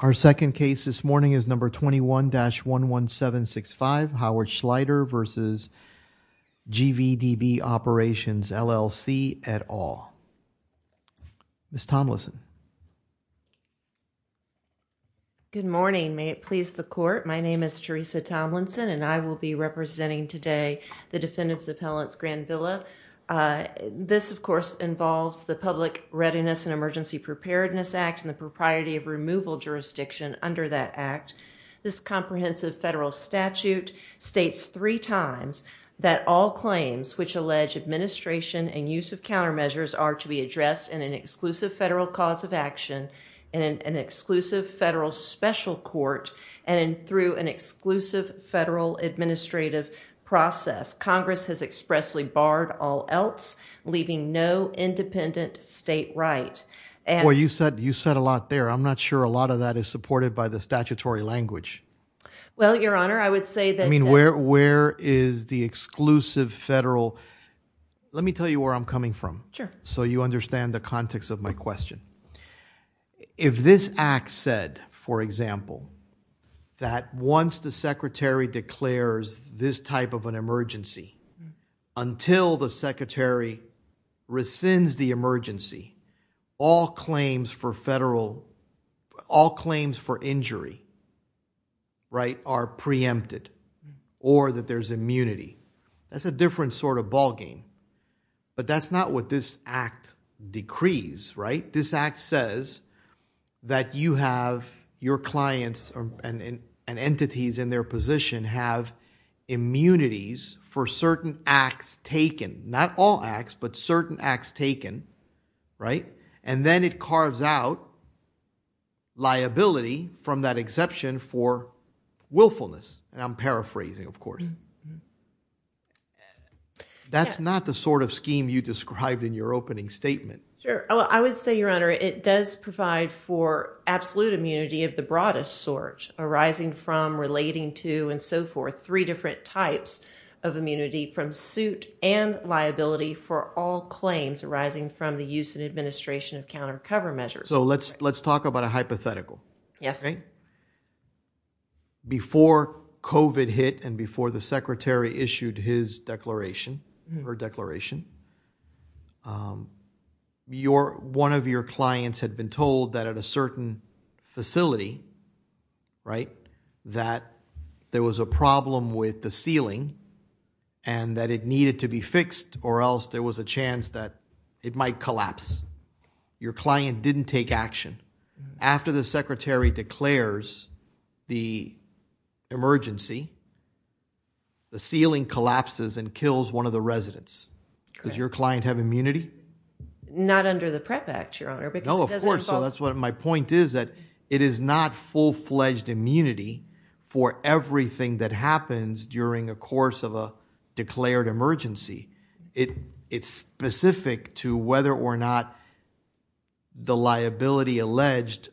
Our second case this morning is number 21-11765 Howard Schleider v. GVDB Operations, LLC at all. Ms. Tomlinson. Good morning may it please the court my name is Teresa Tomlinson and I will be representing today the Defendants Appellants Grand Villa. This of course involves the Public Readiness and Emergency Preparedness Act and the propriety of removal jurisdiction under that Act. This comprehensive federal statute states three times that all claims which use of countermeasures are to be addressed in an exclusive federal cause of action in an exclusive federal special court and through an exclusive federal administrative process. Congress has expressly barred all else leaving no independent state right. Well you said you said a lot there I'm not sure a lot of that is supported by the statutory language. Well your honor I would say that. I mean where where is the exclusive federal let me tell you where I'm coming from. Sure. So you understand the context of my question. If this Act said for example that once the secretary declares this type of an emergency until the secretary rescinds the emergency all claims for federal all claims for injury right are preempted or that there's immunity that's a different sort of ballgame but that's not what this Act decrees right this Act says that you have your clients and entities in their position have immunities for certain acts taken not all acts but certain acts taken right and then it carves out liability from that exception for willfulness and I'm paraphrasing of course. That's not the sort of scheme you described in your opening statement. Sure I would say your honor it does provide for absolute immunity of the broadest sort arising from relating to and so forth three different types of immunity from suit and liability for all claims arising from the use and administration of counter cover measures. So let's let's talk about a hypothetical. Yes. Before COVID hit and before the secretary issued his declaration her declaration your one of your clients had been told that at a certain facility right that there was a problem with the ceiling and that it needed to be fixed or else there was a chance that it might collapse. Your client didn't take action after the secretary declares the emergency the ceiling collapses and kills one of the residents. Does your client have immunity? Not under the Prep Act your honor. No of course so that's what my point is that it is not full-fledged immunity for everything that happens during a course of a declared emergency. It it's specific to whether or not the liability alleged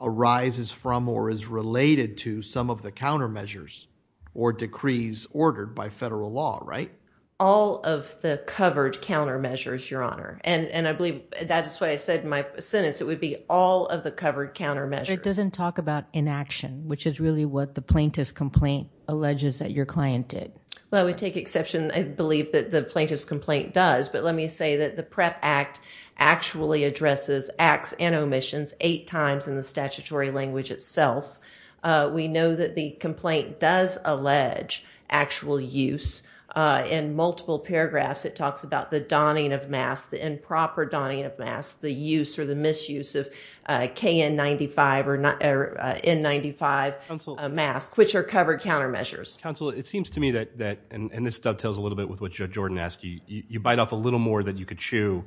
arises from or is related to some of the countermeasures or decrees ordered by federal law right? All of the covered countermeasures your honor and and I believe that's what I said in my sentence it would be all of the covered countermeasures. It doesn't talk about inaction which is really what the plaintiff's complaint alleges that your client did. Well I would take exception I believe that the plaintiff's complaint does but let me say that the Prep Act actually addresses acts and omissions eight times in the statutory language itself. We know that the complaint does allege actual use in multiple paragraphs it talks about the donning of masks the improper donning of masks the use or the misuse of KN 95 or N95 mask which are covered countermeasures. Counsel it seems to me that that and this dovetails a little bit with what Jordan asked you you bite off a little more than you could chew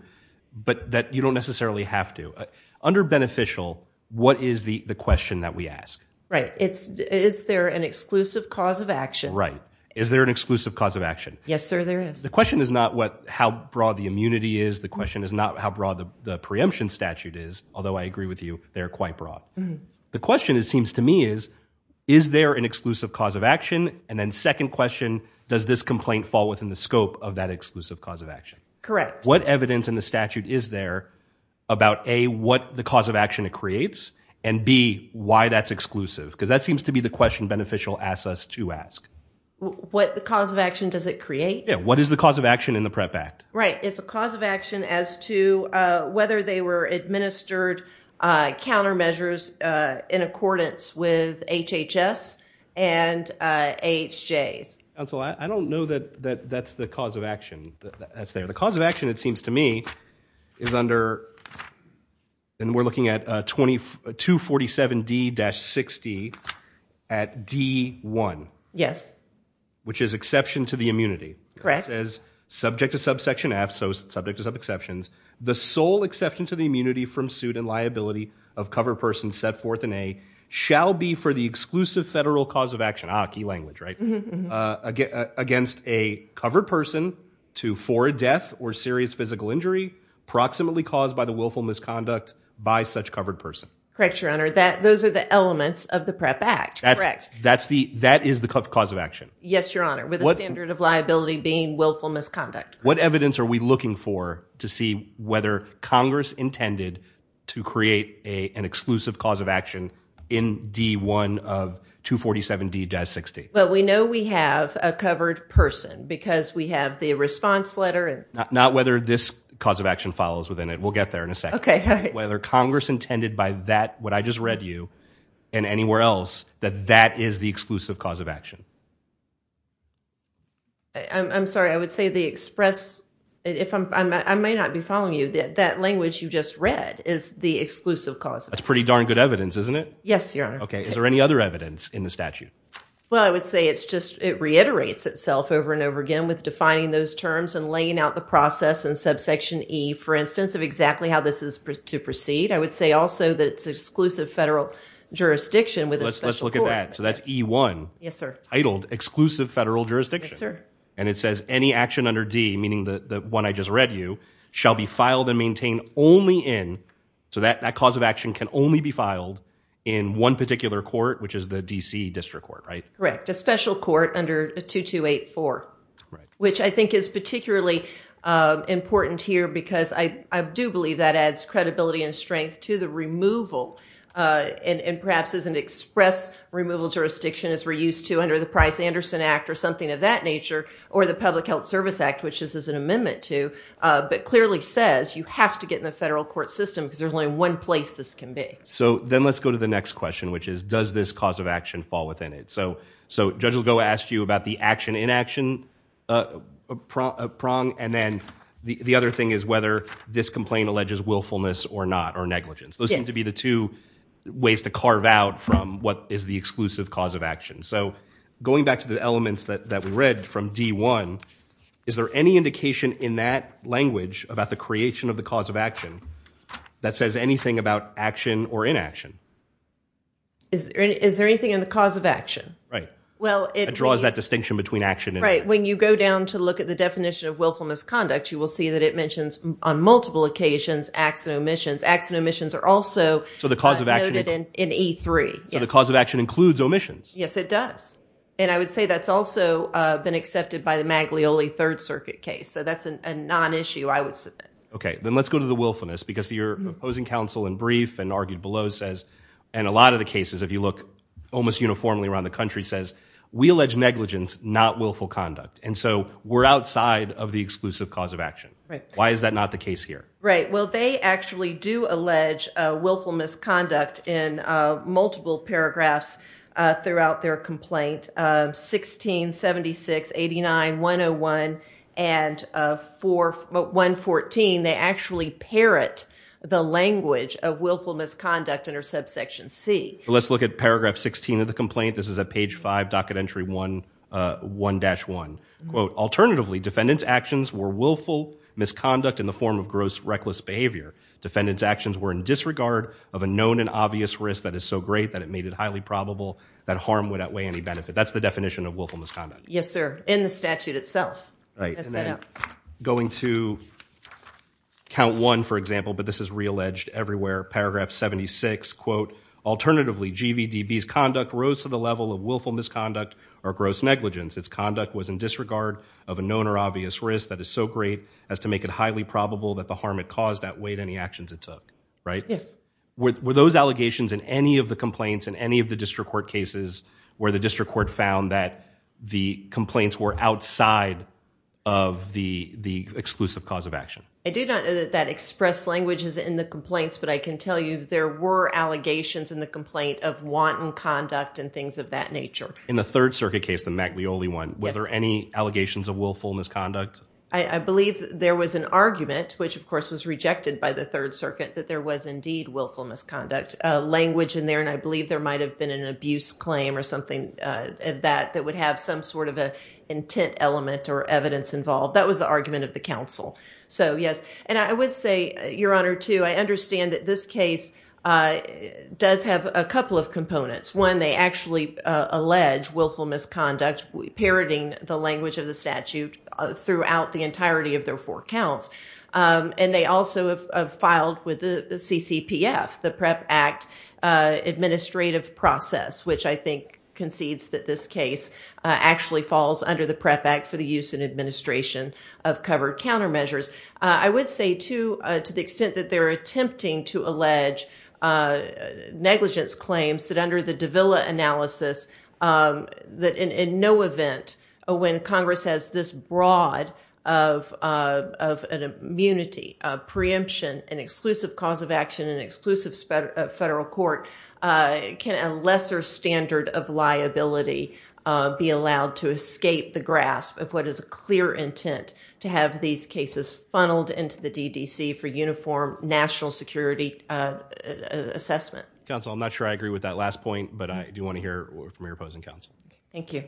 but that you don't necessarily have to. Under beneficial what is the the question that we ask? Right it's is there an exclusive cause of action? Right is there an exclusive cause of action? Yes sir there is. The question is not what how broad the immunity is the question is not how broad the preemption statute is although I agree with you they're quite broad. The question it seems to me is is there an exclusive cause of action and then second question does this complaint fall within the scope of that exclusive cause of action? Correct. What evidence in the statute is there about A what the cause of action it creates and B why that's exclusive because that seems to be the question beneficial asks us to ask. What the cause of action does it create? Yeah what is the cause of action in the Prep Act? Right it's a administered countermeasures in accordance with HHS and AHJ's. Council I don't know that that that's the cause of action that's there the cause of action it seems to me is under and we're looking at 2247 D-60 at D1. Yes. Which is exception to the immunity. Correct. It says subject to subsection F so subject to sub exceptions the sole exception to the immunity from suit and liability of cover person set forth in A shall be for the exclusive federal cause of action ah key language right again against a covered person to for a death or serious physical injury proximately caused by the willful misconduct by such covered person. Correct your honor that those are the elements of the Prep Act. Correct. That's the that is the cause of action. Yes your honor with a standard of whether Congress intended to create a an exclusive cause of action in D1 of 247 D-60. Well we know we have a covered person because we have the response letter. Not whether this cause of action follows within it we'll get there in a second. Okay. Whether Congress intended by that what I just read you and anywhere else that that is the exclusive cause of action. I'm sorry I would say the express if I'm I may not be following you that that language you just read is the exclusive cause. That's pretty darn good evidence isn't it? Yes your honor. Okay is there any other evidence in the statute? Well I would say it's just it reiterates itself over and over again with defining those terms and laying out the process and subsection E for instance of exactly how this is to proceed. I would say also that it's exclusive federal jurisdiction with a special court. Let's look at that so that's E1. Yes sir. Titled exclusive federal jurisdiction. Yes sir. And it says any action under D meaning that the one I just read you shall be filed and maintained only in so that that cause of action can only be filed in one particular court which is the DC District Court right? Correct a special court under a 2284 which I think is particularly important here because I do believe that adds credibility and strength to the removal and perhaps as an express removal jurisdiction as we're used to under the Price-Anderson Act or something of that nature or the Public Health Service Act which is as an amendment to but clearly says you have to get in the federal court system because there's only one place this can be. So then let's go to the next question which is does this cause of action fall within it? So so Judge Ligo asked you about the action inaction prong and then the other thing is whether this complaint alleges willfulness or not or negligence. Those seem to be the two ways to carve out from what is the exclusive cause of action. So going back to the that we read from D1 is there any indication in that language about the creation of the cause of action that says anything about action or inaction? Is there anything in the cause of action? Right well it draws that distinction between action and inaction. Right when you go down to look at the definition of willful misconduct you will see that it mentions on multiple occasions acts and omissions acts and omissions are also so the cause of action in E3. So the cause of action has also been accepted by the Maglioli Third Circuit case so that's a non-issue I would say. Okay then let's go to the willfulness because your opposing counsel in brief and argued below says and a lot of the cases if you look almost uniformly around the country says we allege negligence not willful conduct and so we're outside of the exclusive cause of action. Right. Why is that not the case here? Right well they actually do allege willful misconduct in multiple paragraphs throughout their complaint 16, 76, 89, 101 and for 114 they actually parrot the language of willful misconduct under subsection C. Let's look at paragraph 16 of the complaint this is a page 5 docket entry 1 1-1 quote alternatively defendants actions were willful misconduct in the form of gross reckless behavior defendants actions were in disregard of a known and highly probable that harm would outweigh any benefit that's the definition of willful misconduct. Yes sir in the statute itself. Right going to count one for example but this is realleged everywhere paragraph 76 quote alternatively GVDB's conduct rose to the level of willful misconduct or gross negligence its conduct was in disregard of a known or obvious risk that is so great as to make it highly probable that the harm it caused outweighed any actions it took. Right. Yes. Were those allegations in any of the complaints in any of the district court cases where the district court found that the complaints were outside of the the exclusive cause of action? I do not know that that expressed language is in the complaints but I can tell you there were allegations in the complaint of wanton conduct and things of that nature. In the Third Circuit case the Maglioli one whether any allegations of willful misconduct? I believe there was an argument which of course was rejected by the Third Circuit that there was indeed willful misconduct language in there and I believe there might have been an abuse claim or something that that would have some sort of a intent element or evidence involved that was the argument of the council. So yes and I would say your honor too I understand that this case does have a couple of components. One they actually allege willful misconduct parroting the language of the statute throughout the entirety of their four counts and they also have filed with the CCPF the PREP Act administrative process which I think concedes that this case actually falls under the PREP Act for the use and administration of covered countermeasures. I would say too to the extent that they're attempting to allege negligence claims that under the of an immunity preemption an exclusive cause of action and exclusive federal court can a lesser standard of liability be allowed to escape the grasp of what is a clear intent to have these cases funneled into the DDC for uniform national security assessment. Counsel I'm not sure I agree with that last point but I do want to hear from your opposing counsel. Thank you.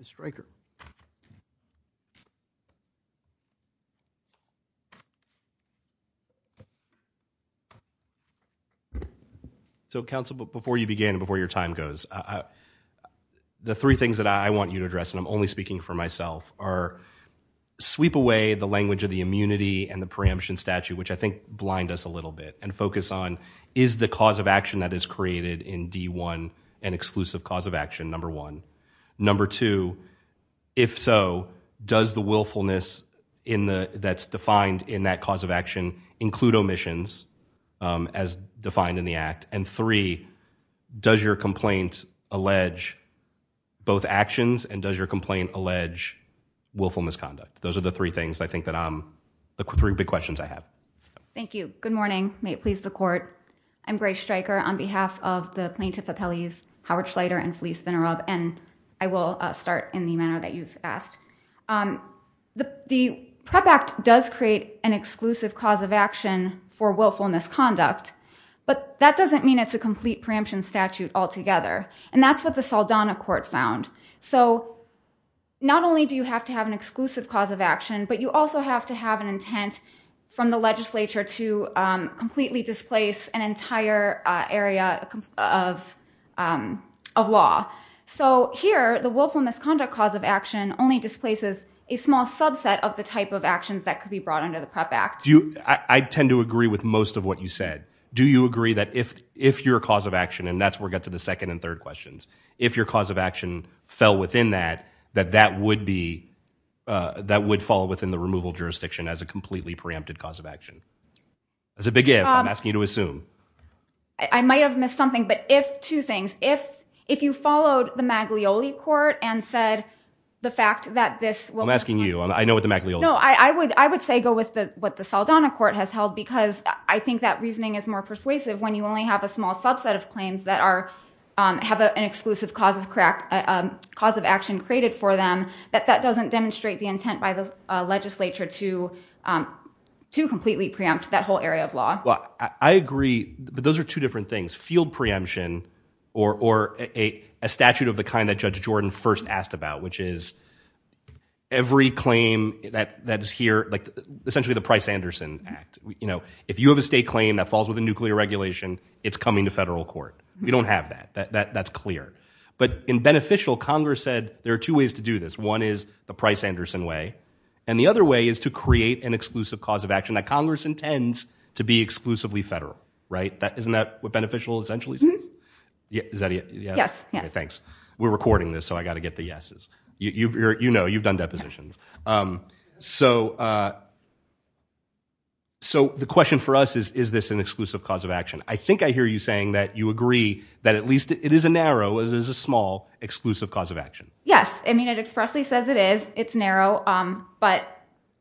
Mr. Stryker. So counsel before you begin before your time goes the three things that I want you to address and I'm only speaking for myself are sweep away the language of the immunity and the preemption statute which I think blind us a little bit and focus on is the cause of action that is created in D1 an exclusive cause of action number one. Number two if so does the willfulness in the that's defined in that cause of action include omissions as defined in the act and three does your complaint allege both actions and does your complaint allege willful misconduct. Those are the three things I think that I'm the three big questions I have. Thank you. Good morning. May it please the court. I'm Grace Stryker on behalf of the plaintiff appellees Howard Schleider and Felice Venerov and I will start in the manner that you've asked. The the PREP Act does create an exclusive cause of action for willfulness conduct but that doesn't mean it's a complete preemption statute altogether and that's what the Saldana court found. So not only do you have to have an exclusive cause of action but you also have to have an intent from the legislature to completely displace an entire area of law. So here the willfulness conduct cause of action only displaces a small subset of the type of actions that could be brought under the PREP Act. Do you I tend to agree with most of what you said. Do you agree that if if your cause of action and that's where we get to the second and third questions if your cause of action fell within that that that would be that would fall within the removal jurisdiction as a completely preempted cause of action. That's a big if I'm asking you to assume. I might have missed something but if two things if if you followed the Maglioli court and said the fact that this. I'm asking you I know what the Maglioli. No I would I would say go with the what the Saldana court has held because I think that reasoning is more that an exclusive cause of crack cause of action created for them that that doesn't demonstrate the intent by the legislature to to completely preempt that whole area of law. Well I agree but those are two different things field preemption or or a statute of the kind that Judge Jordan first asked about which is every claim that that is here like essentially the Price-Anderson Act. You know if you have a state claim that falls with a nuclear regulation it's coming to clear. But in beneficial Congress said there are two ways to do this. One is the Price-Anderson way and the other way is to create an exclusive cause of action that Congress intends to be exclusively federal. Right that isn't that what beneficial essentially says? Yeah thanks we're recording this so I got to get the yeses. You know you've done depositions. So so the question for us is is this an exclusive cause of action? I think I hear you saying that you agree that at least it is a narrow as is a small exclusive cause of action. Yes I mean it expressly says it is it's narrow but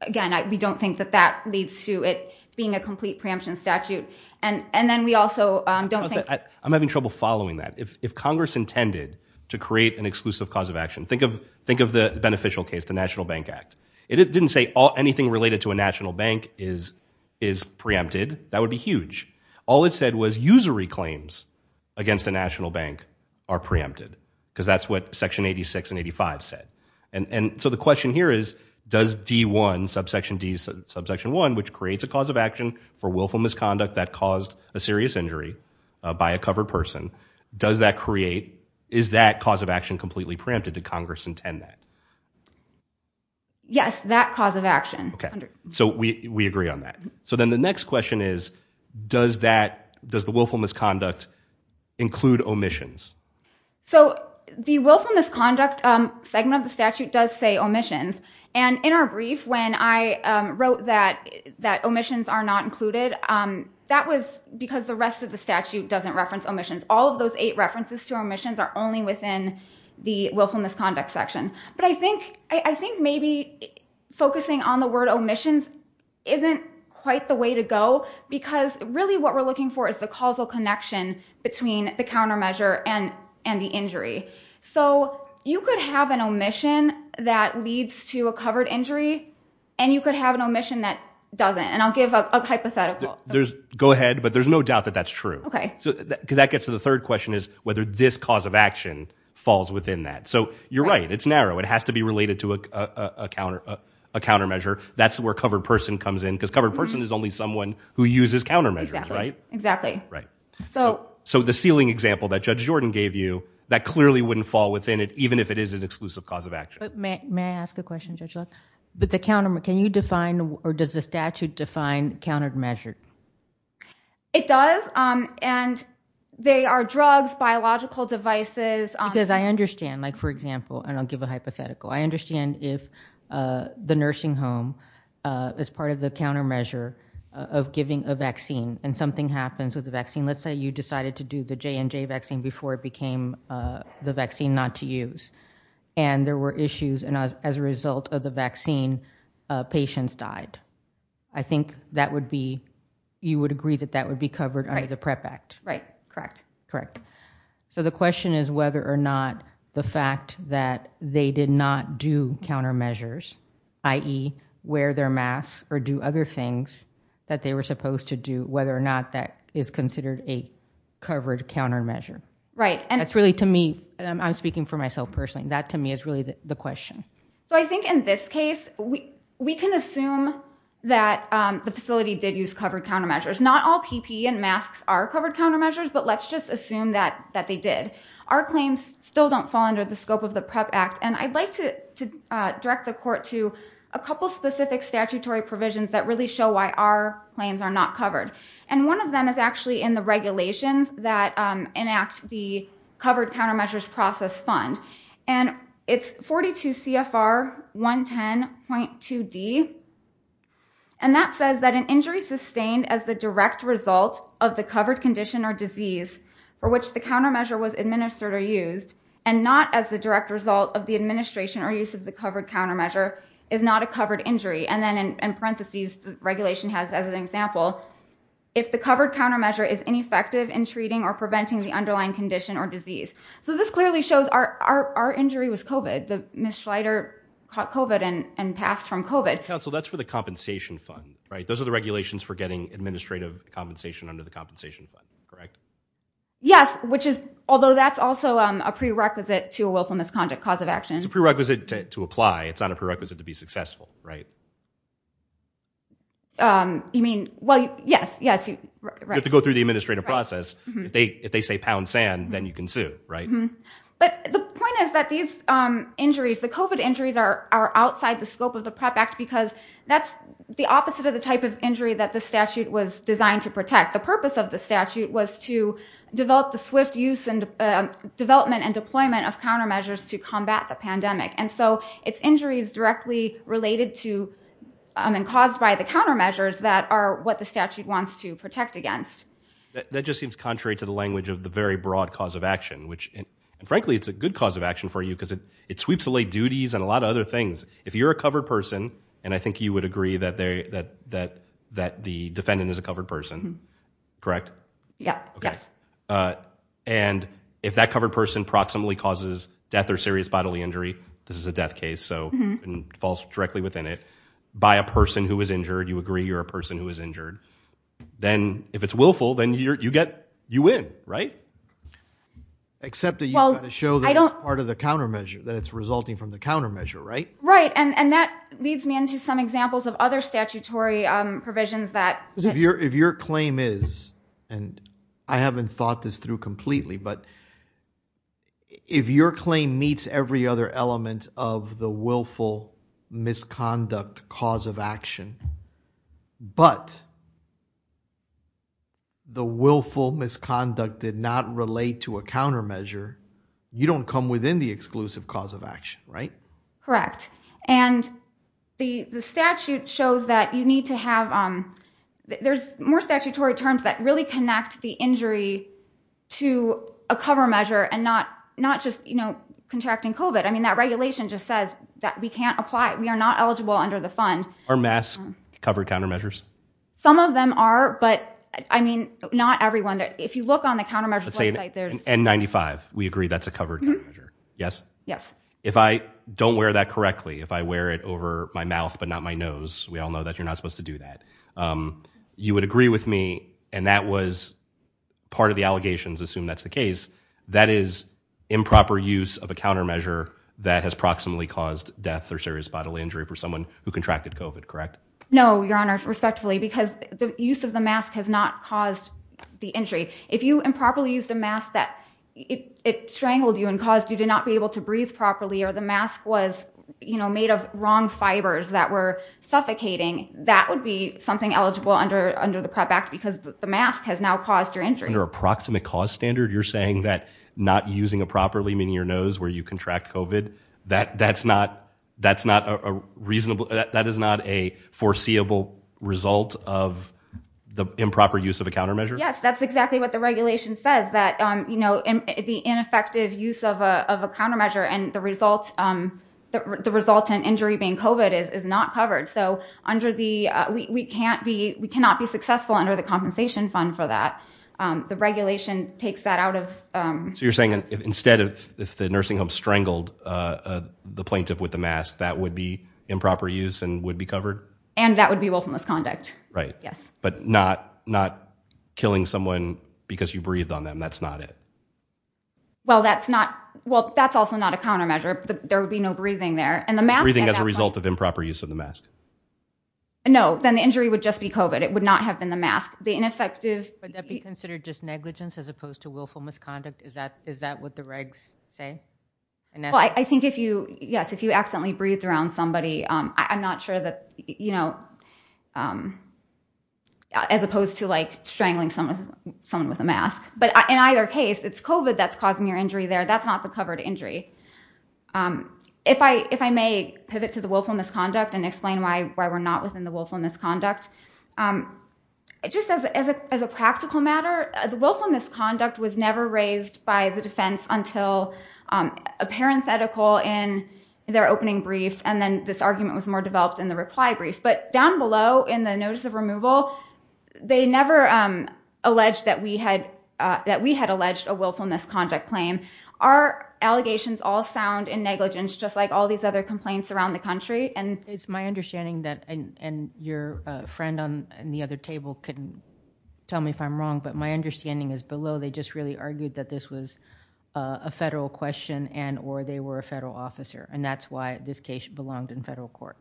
again we don't think that that leads to it being a complete preemption statute and and then we also don't think. I'm having trouble following that. If Congress intended to create an exclusive cause of action think of think of the beneficial case the National Bank Act. It didn't say anything related to a national bank is is preempted that would be huge. All it claims against the National Bank are preempted because that's what section 86 and 85 said and and so the question here is does D1 subsection D's subsection 1 which creates a cause of action for willful misconduct that caused a serious injury by a covered person does that create is that cause of action completely preempted to Congress intend that? Yes that cause of action. Okay so we we agree on that. So then the next question is does that does the willful misconduct include omissions? So the willful misconduct segment of the statute does say omissions and in our brief when I wrote that that omissions are not included that was because the rest of the statute doesn't reference omissions all of those eight references to omissions are only within the willful misconduct section but I think I think maybe focusing on the word omissions isn't quite the way to go because really what we're looking for is the causal connection between the countermeasure and and the injury so you could have an omission that leads to a covered injury and you could have an omission that doesn't and I'll give a hypothetical. There's go ahead but there's no doubt that that's true. Okay. So because that gets to the third question is whether this cause of action falls within that so you're right it's narrow it has to be related to a counter a countermeasure that's where covered person comes in because covered person is only someone who uses countermeasures right exactly right so so the ceiling example that Judge Jordan gave you that clearly wouldn't fall within it even if it is an exclusive cause of action. May I ask a question Judge Luck? But the countermeasure can you define or does the statute define countermeasure? It does and they are drugs biological devices. Because I understand like for example and I'll give a hypothetical I understand if the countermeasure of giving a vaccine and something happens with the vaccine let's say you decided to do the J&J vaccine before it became the vaccine not to use and there were issues and as a result of the vaccine patients died. I think that would be you would agree that that would be covered under the PREP Act. Right correct. Correct. So the question is whether or not the fact that they did not do countermeasures i.e. wear their masks or do other things that they were supposed to do whether or not that is considered a covered countermeasure. Right and that's really to me I'm speaking for myself personally that to me is really the question. So I think in this case we we can assume that the facility did use covered countermeasures not all PP and masks are covered countermeasures but let's just assume that that they did. Our claims still don't fall under the scope of the PREP Act and I'd like to direct the court to a couple specific statutory provisions that really show why our claims are not covered and one of them is actually in the regulations that enact the covered countermeasures process fund and it's 42 CFR 110.2 D and that says that an injury sustained as the direct result of the covered condition or disease for and not as the direct result of the administration or use of the covered countermeasure is not a covered injury and then in parentheses the regulation has as an example if the covered countermeasure is ineffective in treating or preventing the underlying condition or disease. So this clearly shows our our injury was COVID. The misleder caught COVID and and passed from COVID. Counsel that's for the compensation fund right those are the regulations for getting administrative compensation under the compensation fund correct? Yes which is although that's also a prerequisite to a willful misconduct cause of action. It's a prerequisite to apply it's not a prerequisite to be successful right? I mean well yes yes you have to go through the administrative process if they if they say pound sand then you can sue right? But the point is that these injuries the COVID injuries are outside the scope of the PREP Act because that's the opposite of the type of injury that the statute was designed to protect. The purpose of the statute was to develop the swift use and development and deployment of countermeasures to combat the pandemic and so it's injuries directly related to and caused by the countermeasures that are what the statute wants to protect against. That just seems contrary to the language of the very broad cause of action which frankly it's a good cause of action for you because it it sweeps away duties and a lot of other things. If you're a covered person and I think you would agree that they that that that the defendant is a covered person correct? Yeah okay and if that covered person proximally causes death or serious bodily injury this is a death case so and falls directly within it by a person who was injured you agree you're a person who was injured then if it's willful then you're you get you win right? Except that you show that I don't part of the countermeasure that it's resulting from the countermeasure right? Right and and that leads me into some examples of other statutory provisions that if your if your claim is and I haven't thought this through completely but if your claim meets every other element of the willful misconduct cause of action but the willful misconduct did not relate to a countermeasure you don't come within the exclusive cause of action right? Correct and the the statute shows that you need to have there's more statutory terms that really connect the injury to a cover measure and not not just you know contracting COVID I mean that regulation just says that we can't apply we are not eligible under the fund Are masks covered countermeasures? Some of them are but I mean not everyone that if you look on the countermeasure site there's N95 we agree that's a covered measure yes yes if I don't wear that correctly if I wear it over my mouth but not my nose we all know that you're not supposed to do that you would agree with me and that was part of the allegations assume that's the case that is improper use of a countermeasure that has proximately caused death or serious bodily injury for someone who contracted COVID correct? No your honors respectfully because the use of the mask has not caused the injury if you improperly used a mask that it strangled you and caused you to not be able to breathe properly or the mask was you know made of wrong fibers that were suffocating that would be something eligible under under the PrEP Act because the mask has now caused your injury. Under a proximate cause standard you're saying that not using a properly meaning your nose where you contract COVID that that's not that's not a reasonable that is not a foreseeable result of the improper use of a countermeasure? Yes that's exactly what the regulation says that you know the ineffective use of a countermeasure and the result the resultant injury being COVID is not covered so under the we can't be we cannot be successful under the compensation fund for that the regulation takes that out of. So you're saying instead of if the nursing home strangled the plaintiff with the mask that would be improper use and would be covered? And that would be willful misconduct. Right. Yes. But not not killing someone because you breathed on them that's not it? Well that's not well that's also not a countermeasure there would be no breathing there and the mask. Breathing as a result of improper use of the mask? No then the injury would just be COVID it would not have been the mask the ineffective. But that be considered just negligence as opposed to willful misconduct is that is that what the regs say? Well I think if you yes if you accidentally breathed around somebody I'm not sure that you know as opposed to like strangling someone someone with a mask but in either case it's COVID that's causing your injury there that's not the covered injury. If I if I may pivot to the willful misconduct and explain why why we're not within the willful misconduct it just says as a practical matter the willful misconduct was never raised by the defense until a parenthetical in their opening brief and then this argument was more developed in the reply brief. But down below in the notice of removal they never alleged that we had that we had alleged a willful misconduct claim. Our allegations all sound in negligence just like all these other complaints around the country. And it's my understanding that and your friend on the other table couldn't tell me if I'm wrong but my understanding is below they just really argued that this was a federal question and or they were a federal officer and that's why this case belonged in federal court.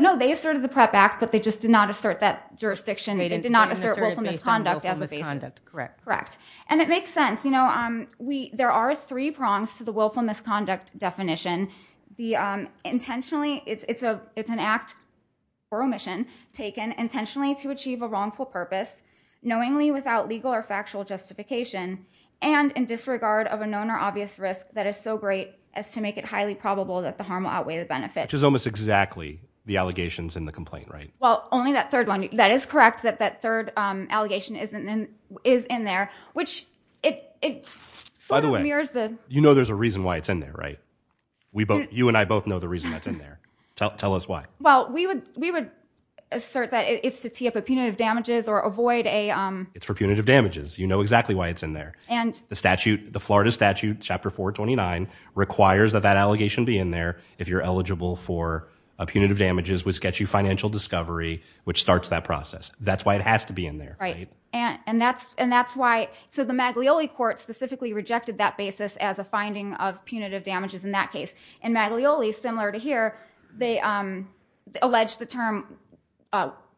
No they asserted the PrEP Act but they just did not assert that jurisdiction they did not assert willful misconduct as a basis. Correct. And it makes sense you know we there are three prongs to the willful misconduct definition the intentionally it's a it's an act for omission taken intentionally to achieve a wrongful purpose knowingly without legal or factual justification and in disregard of a known or obvious risk that is so great as to make it highly probable that the harm will outweigh the benefit. Which is almost exactly the allegations in the complaint right? Well only that third one that is correct that that third allegation isn't in is in there which it sort of mirrors the. You know there's a reason why it's in there right? We both you and I both know the reason that's in there tell us why. Well we would we would assert that it's to tee up a punitive damages or avoid a. It's for punitive damages you know exactly why it's in there and the statute the Florida statute chapter 429 requires that that allegation be in there if you're eligible for a punitive damages which gets you financial discovery which starts that process that's why it has to be in there. Right and and that's and that's why so the Maglioli court specifically rejected that basis as a finding of punitive damages in that case and Maglioli similar to here they alleged the term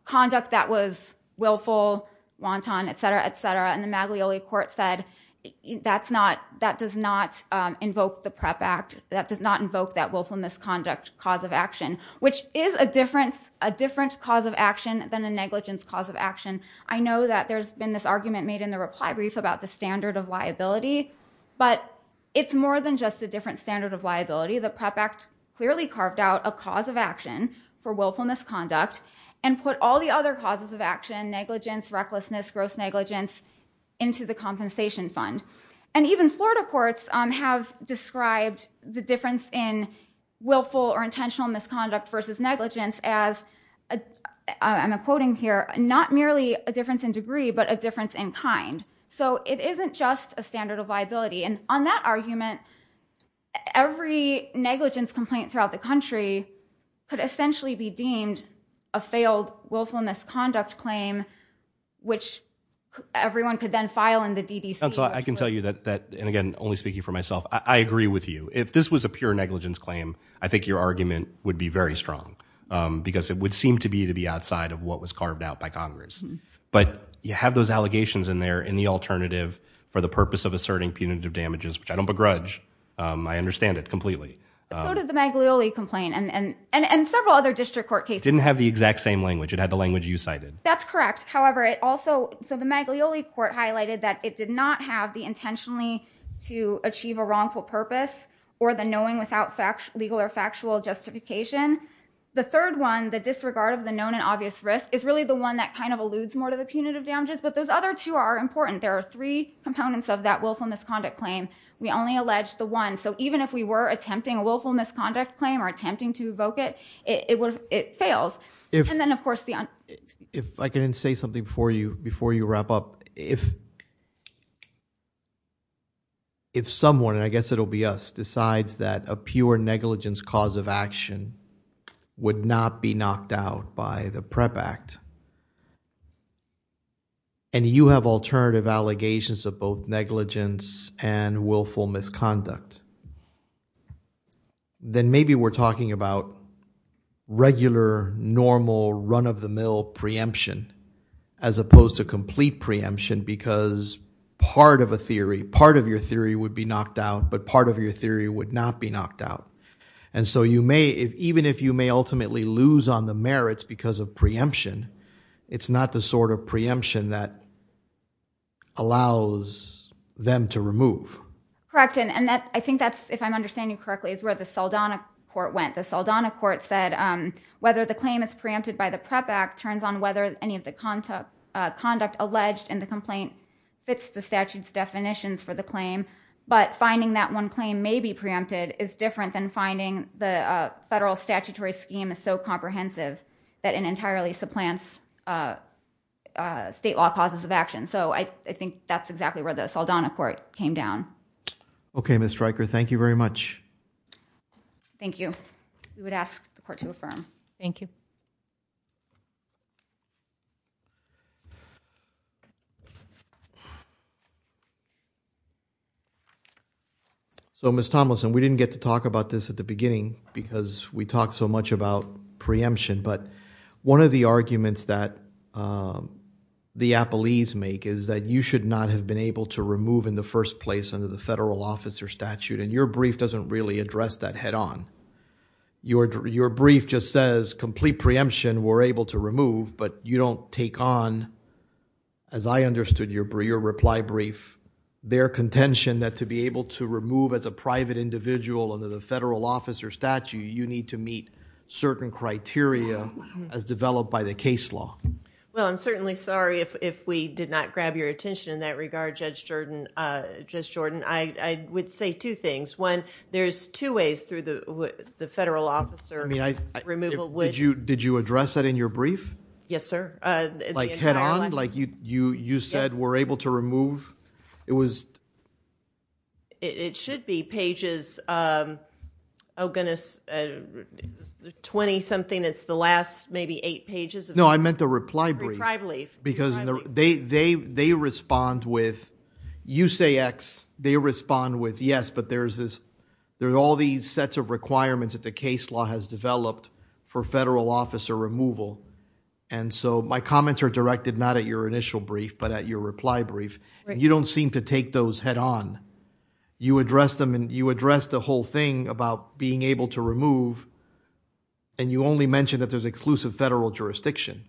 conduct that was willful wanton etc etc and the Maglioli court said that's not that does not invoke the prep act that does not invoke that willful misconduct cause of action which is a difference a different cause of action than a negligence cause of action. I know that there's been this argument made in the reply brief about the standard of liability but it's more than just a different standard of liability the prep act clearly carved out a cause of action for willful misconduct and put all the other causes of action negligence recklessness gross negligence into the compensation fund and even Florida courts have described the difference in willful or intentional misconduct versus negligence as I'm quoting here not merely a difference in degree but a difference in kind so it negligence complaint throughout the country could essentially be deemed a failed willful misconduct claim which everyone could then file in the DDC and so I can tell you that that and again only speaking for myself I agree with you if this was a pure negligence claim I think your argument would be very strong because it would seem to be to be outside of what was carved out by Congress but you have those allegations in there in the alternative for the purpose of asserting punitive damages which I don't begrudge I understand it so did the Maglioli complaint and and and several other district court cases didn't have the exact same language it had the language you cited that's correct however it also so the Maglioli court highlighted that it did not have the intentionally to achieve a wrongful purpose or the knowing without fact legal or factual justification the third one the disregard of the known and obvious risk is really the one that kind of alludes more to the punitive damages but those other two are important there are three components of that willful misconduct claim we only allege the one so even if we were attempting a willful misconduct claim or attempting to evoke it it would it fails and then of course the if I can say something for you before you wrap up if if someone and I guess it'll be us decides that a pure negligence cause of action would not be knocked out by the PrEP Act and you have alternative allegations of both negligence and willful misconduct then maybe we're talking about regular normal run-of-the-mill preemption as opposed to complete preemption because part of a theory part of your theory would be knocked out but part of your theory would not be knocked out and so you may even if you may ultimately lose on the them to remove. Correct and that I think that's if I'm understanding correctly is where the Saldana court went the Saldana court said whether the claim is preempted by the PrEP Act turns on whether any of the conduct alleged in the complaint fits the statutes definitions for the claim but finding that one claim may be preempted is different than finding the federal statutory scheme is so comprehensive that it entirely supplants state law causes of action so I think that's exactly where the Saldana court came down. Okay, Ms. Stryker, thank you very much. Thank you. We would ask the court to affirm. Thank you. So, Ms. Tomlinson, we didn't get to talk about this at the beginning because we talked so much about preemption but one of the arguments that the Appellees make is that you should not have been able to remove in the first place under the federal officer statute and your brief doesn't really address that head-on. Your brief just says complete preemption were able to remove but you don't take on as I understood your reply brief their contention that to be able to remove as a private individual under the federal officer statute you need to meet certain criteria as developed by the case law. Well, I'm certainly sorry if we did not grab your attention in that regard, Judge Jordan. I would say two things. One, there's two ways through the federal officer removal... Did you address that in your brief? Yes, sir. Like head-on, like you said were able to remove? It was... It should be pages, oh goodness, twenty something, it's the last maybe eight pages. No, I meant the reply brief because they respond with, you say X, they respond with yes but there's all these sets of requirements that the case law has developed for federal officer removal and so my comments are directed not at your initial brief but at your reply brief and you don't seem to take those head-on. You address them and you address the whole thing about being able to remove and you only mention that there's exclusive federal jurisdiction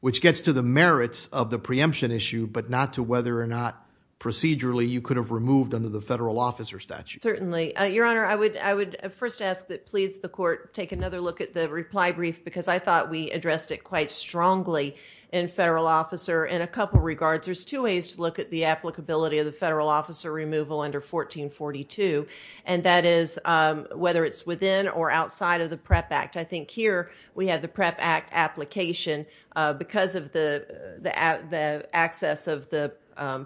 which gets to the merits of the preemption issue but not to whether or not procedurally you could have removed under the federal officer statute. Certainly. Your Honor, I would first ask that please the court take another look at the reply brief because I thought we addressed it quite strongly in federal officer in a couple of regards. There's two ways to look at the applicability of the federal officer removal under 1442 and that is whether it's within or outside of the PREP Act. I think here we have the PREP Act application because of the access of the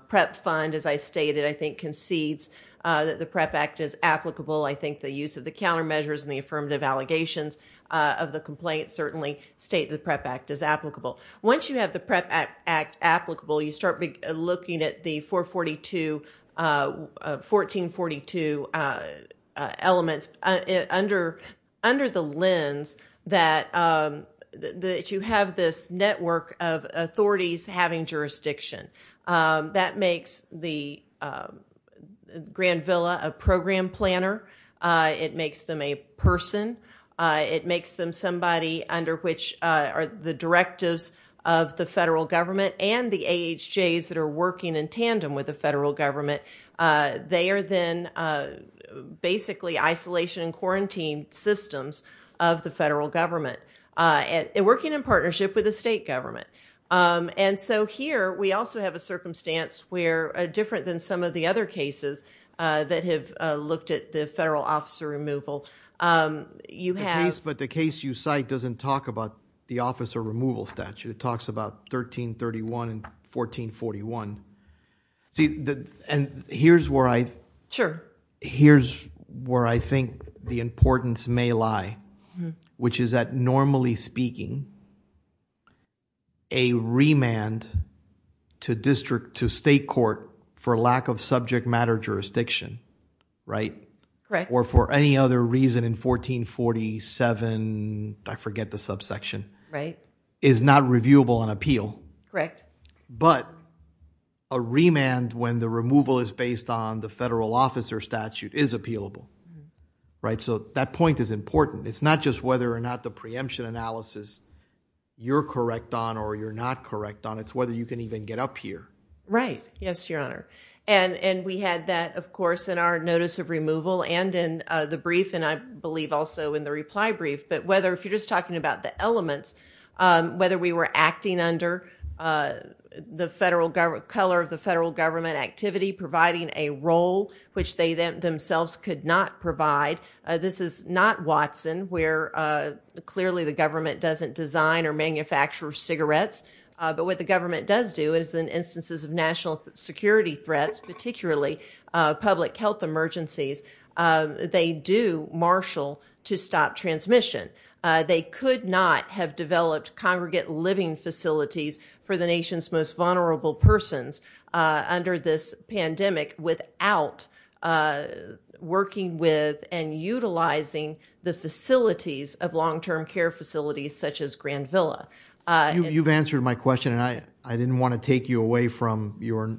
PREP fund as I stated I think concedes that the PREP Act is applicable. I think the use of the countermeasures and the affirmative allegations of the complaint certainly state the PREP Act is applicable. Once you have the PREP Act applicable, you start looking at the 1442 elements under the lens that you have this network of authorities having jurisdiction. That makes the Grand Villa a program planner. It makes them a person. It makes them somebody under which the directives of the federal government and the AHJs that are working in tandem with the federal government, they are then basically isolation and quarantine systems of the federal government working in partnership with the state government. Here we also have a circumstance where different than some of the other cases that have looked at the federal officer removal, you have............. The case you cite doesn't talk about the officer removal statute. It talks about 1331 and 1441. Here's where I think the importance may lie, which is that normally speaking, a remand to state court for lack of subject I forget the subsection, is not reviewable on appeal. But a remand when the removal is based on the federal officer statute is appealable. So that point is important. It's not just whether or not the preemption analysis you're correct on or you're not correct on, it's whether you can even get up here. Right. Yes, your honor. And we had that, of course, in our notice of removal and in the brief and I believe also in the reply brief. But whether if you're just talking about the elements, whether we were acting under the color of the federal government activity, providing a role which they themselves could not provide. This is not Watson, where clearly the government doesn't design or manufacture cigarettes. But what the government does do is in instances of national security threats, particularly public health emergencies, they do marshal to stop transmission. They could not have developed congregate living facilities for the nation's most vulnerable persons under this pandemic without working with and utilizing the facilities of long-term care facilities such as Grand Villa. You've answered my question and I didn't want to take you away from your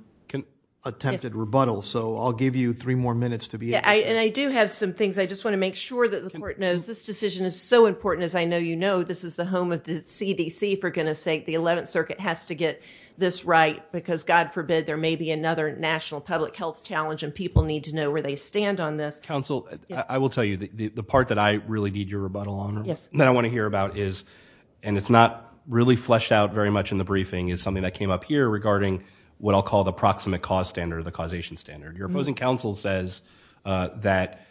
attempted rebuttal. So I'll give you three more minutes to be and I do have some things I just want to make sure that the court knows this decision is so important as I know, you know, this is the home of the CDC for goodness sake. The 11th circuit has to get this right because God forbid there may be another national public health challenge and people need to know where they stand on this council. I will tell you that the part that I really need your rebuttal on that I want to hear about is and it's not really fleshed out very much in the briefing is something that came up here regarding what I'll call the proximate cause standard, the causation standard. Your opposing counsel says that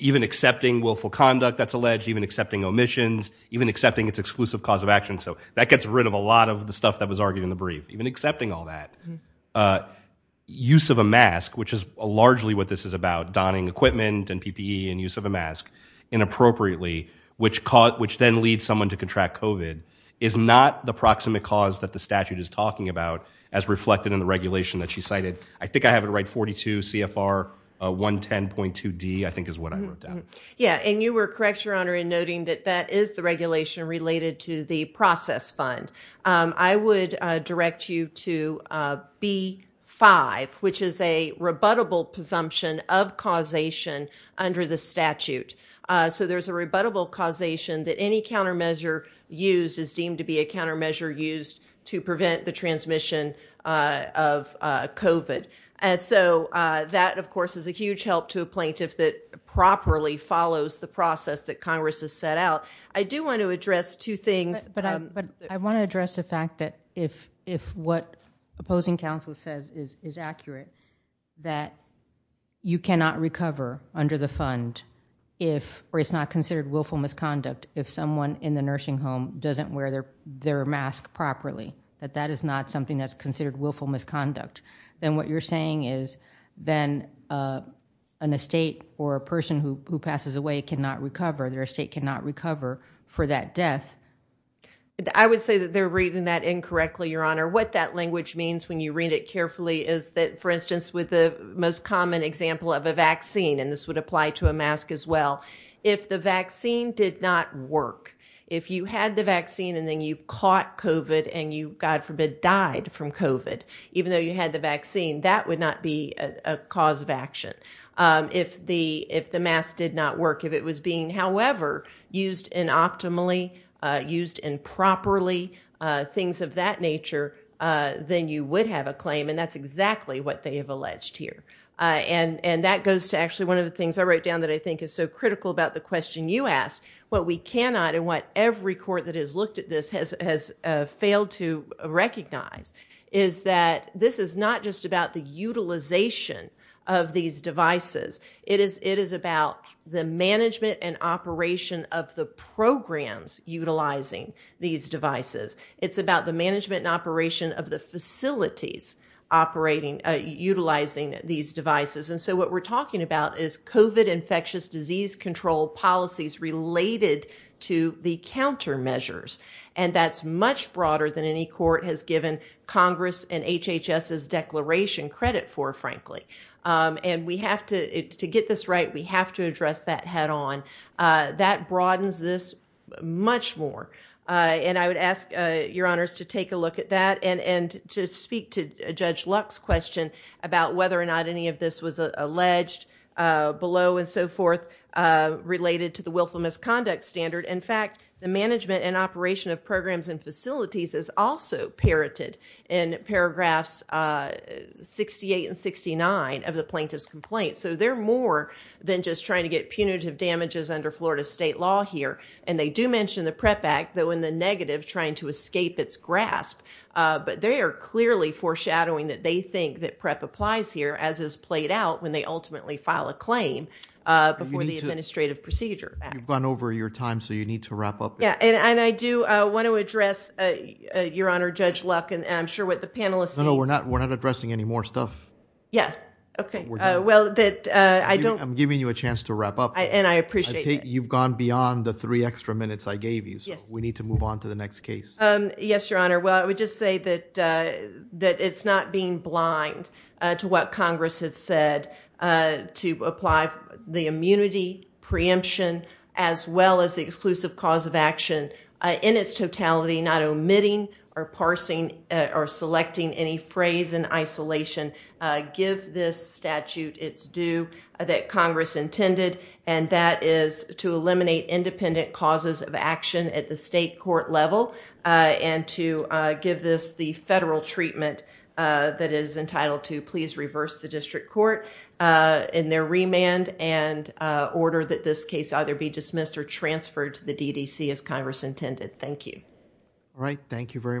even accepting willful conduct that's alleged, even accepting omissions, even accepting its exclusive cause of action, so that gets rid of a lot of the stuff that was argued in the brief, even accepting all that. Use of a mask, which is largely what this is about, donning equipment and PPE and use of a mask inappropriately, which then leads someone to contract COVID is not the proximate cause that the statute is talking about as reflected in the regulation that she cited. I think I have it right 42 CFR 110.2 D I think is what I wrote down. Yeah and you were correct your honor in noting that that is the regulation related to the process fund. I would direct you to B5, which is a so there's a rebuttable causation that any countermeasure used is deemed to be a countermeasure used to prevent the transmission of COVID. And so that of course is a huge help to a plaintiff that properly follows the process that Congress has set out. I do want to address two things, but I want to address the fact that if what opposing counsel says is accurate, that you cannot recover under the fund if, or it's not considered willful misconduct, if someone in the nursing home doesn't wear their mask properly, that that is not something that's considered willful misconduct. Then what you're saying is then an estate or a person who passes away cannot recover. Their estate cannot recover for that death. I would say that they're reading that incorrectly your honor. What that language means when you read it carefully is that for instance, with the most common example of a vaccine, and this would apply to a mask as well, if the vaccine did not work, if you had the vaccine and then you caught COVID and you, God forbid, died from COVID, even though you had the vaccine, that would not be a cause of action. If the mask did not work, if it was being, however, used in optimally, used improperly, things of that nature, then you would have a claim, and that's exactly what they have alleged here. That goes to actually one of the things I wrote down that I think is so critical about the question you asked. What we cannot and what every court that has looked at this has failed to recognize is that this is not just about the utilization of these devices. It is about the management and operation of the facilities utilizing these devices. What we're talking about is COVID infectious disease control policies related to the countermeasures, and that's much broader than any court has given Congress and HHS's declaration credit for, frankly. To get this right, we have to address that head on. That broadens this much more. I would ask your honors to take a look at that and to speak to Judge Luck's question about whether or not any of this was alleged below and so forth related to the willful misconduct standard. In fact, the management and operation of programs and facilities is also parroted in paragraphs 68 and 69 of the plaintiff's complaint. They're more than just trying to get punitive damages under Florida state law here, and they do mention the PrEP Act, though in the negative, trying to escape its grasp. They are clearly foreshadowing that they think that PrEP applies here as is played out when they ultimately file a claim before the administrative procedure. You've gone over your time, so you need to wrap up. Yeah, and I do want to address, Your Honor, Judge Luck, and I'm sure what the panelists No, no, we're not addressing any more stuff. Yeah, okay. Well, I don't I'm giving you a chance to wrap up. And I appreciate that. You've gone beyond the three extra minutes I gave you, so we need to move on to the next case. Yes, Your Honor. Well, I would just say that it's not being blind to what Congress had said to apply the immunity, preemption, as well as the exclusive cause of action in its totality, not omitting or parsing or selecting any phrase in isolation. Give this statute its due that Congress intended, and that is to eliminate independent causes of action at the state court level and to give this the federal treatment that is entitled to please reverse the district court in their remand and order that this case either be dismissed or transferred to the DDC as Congress intended. Thank you. All right. Thank you very much.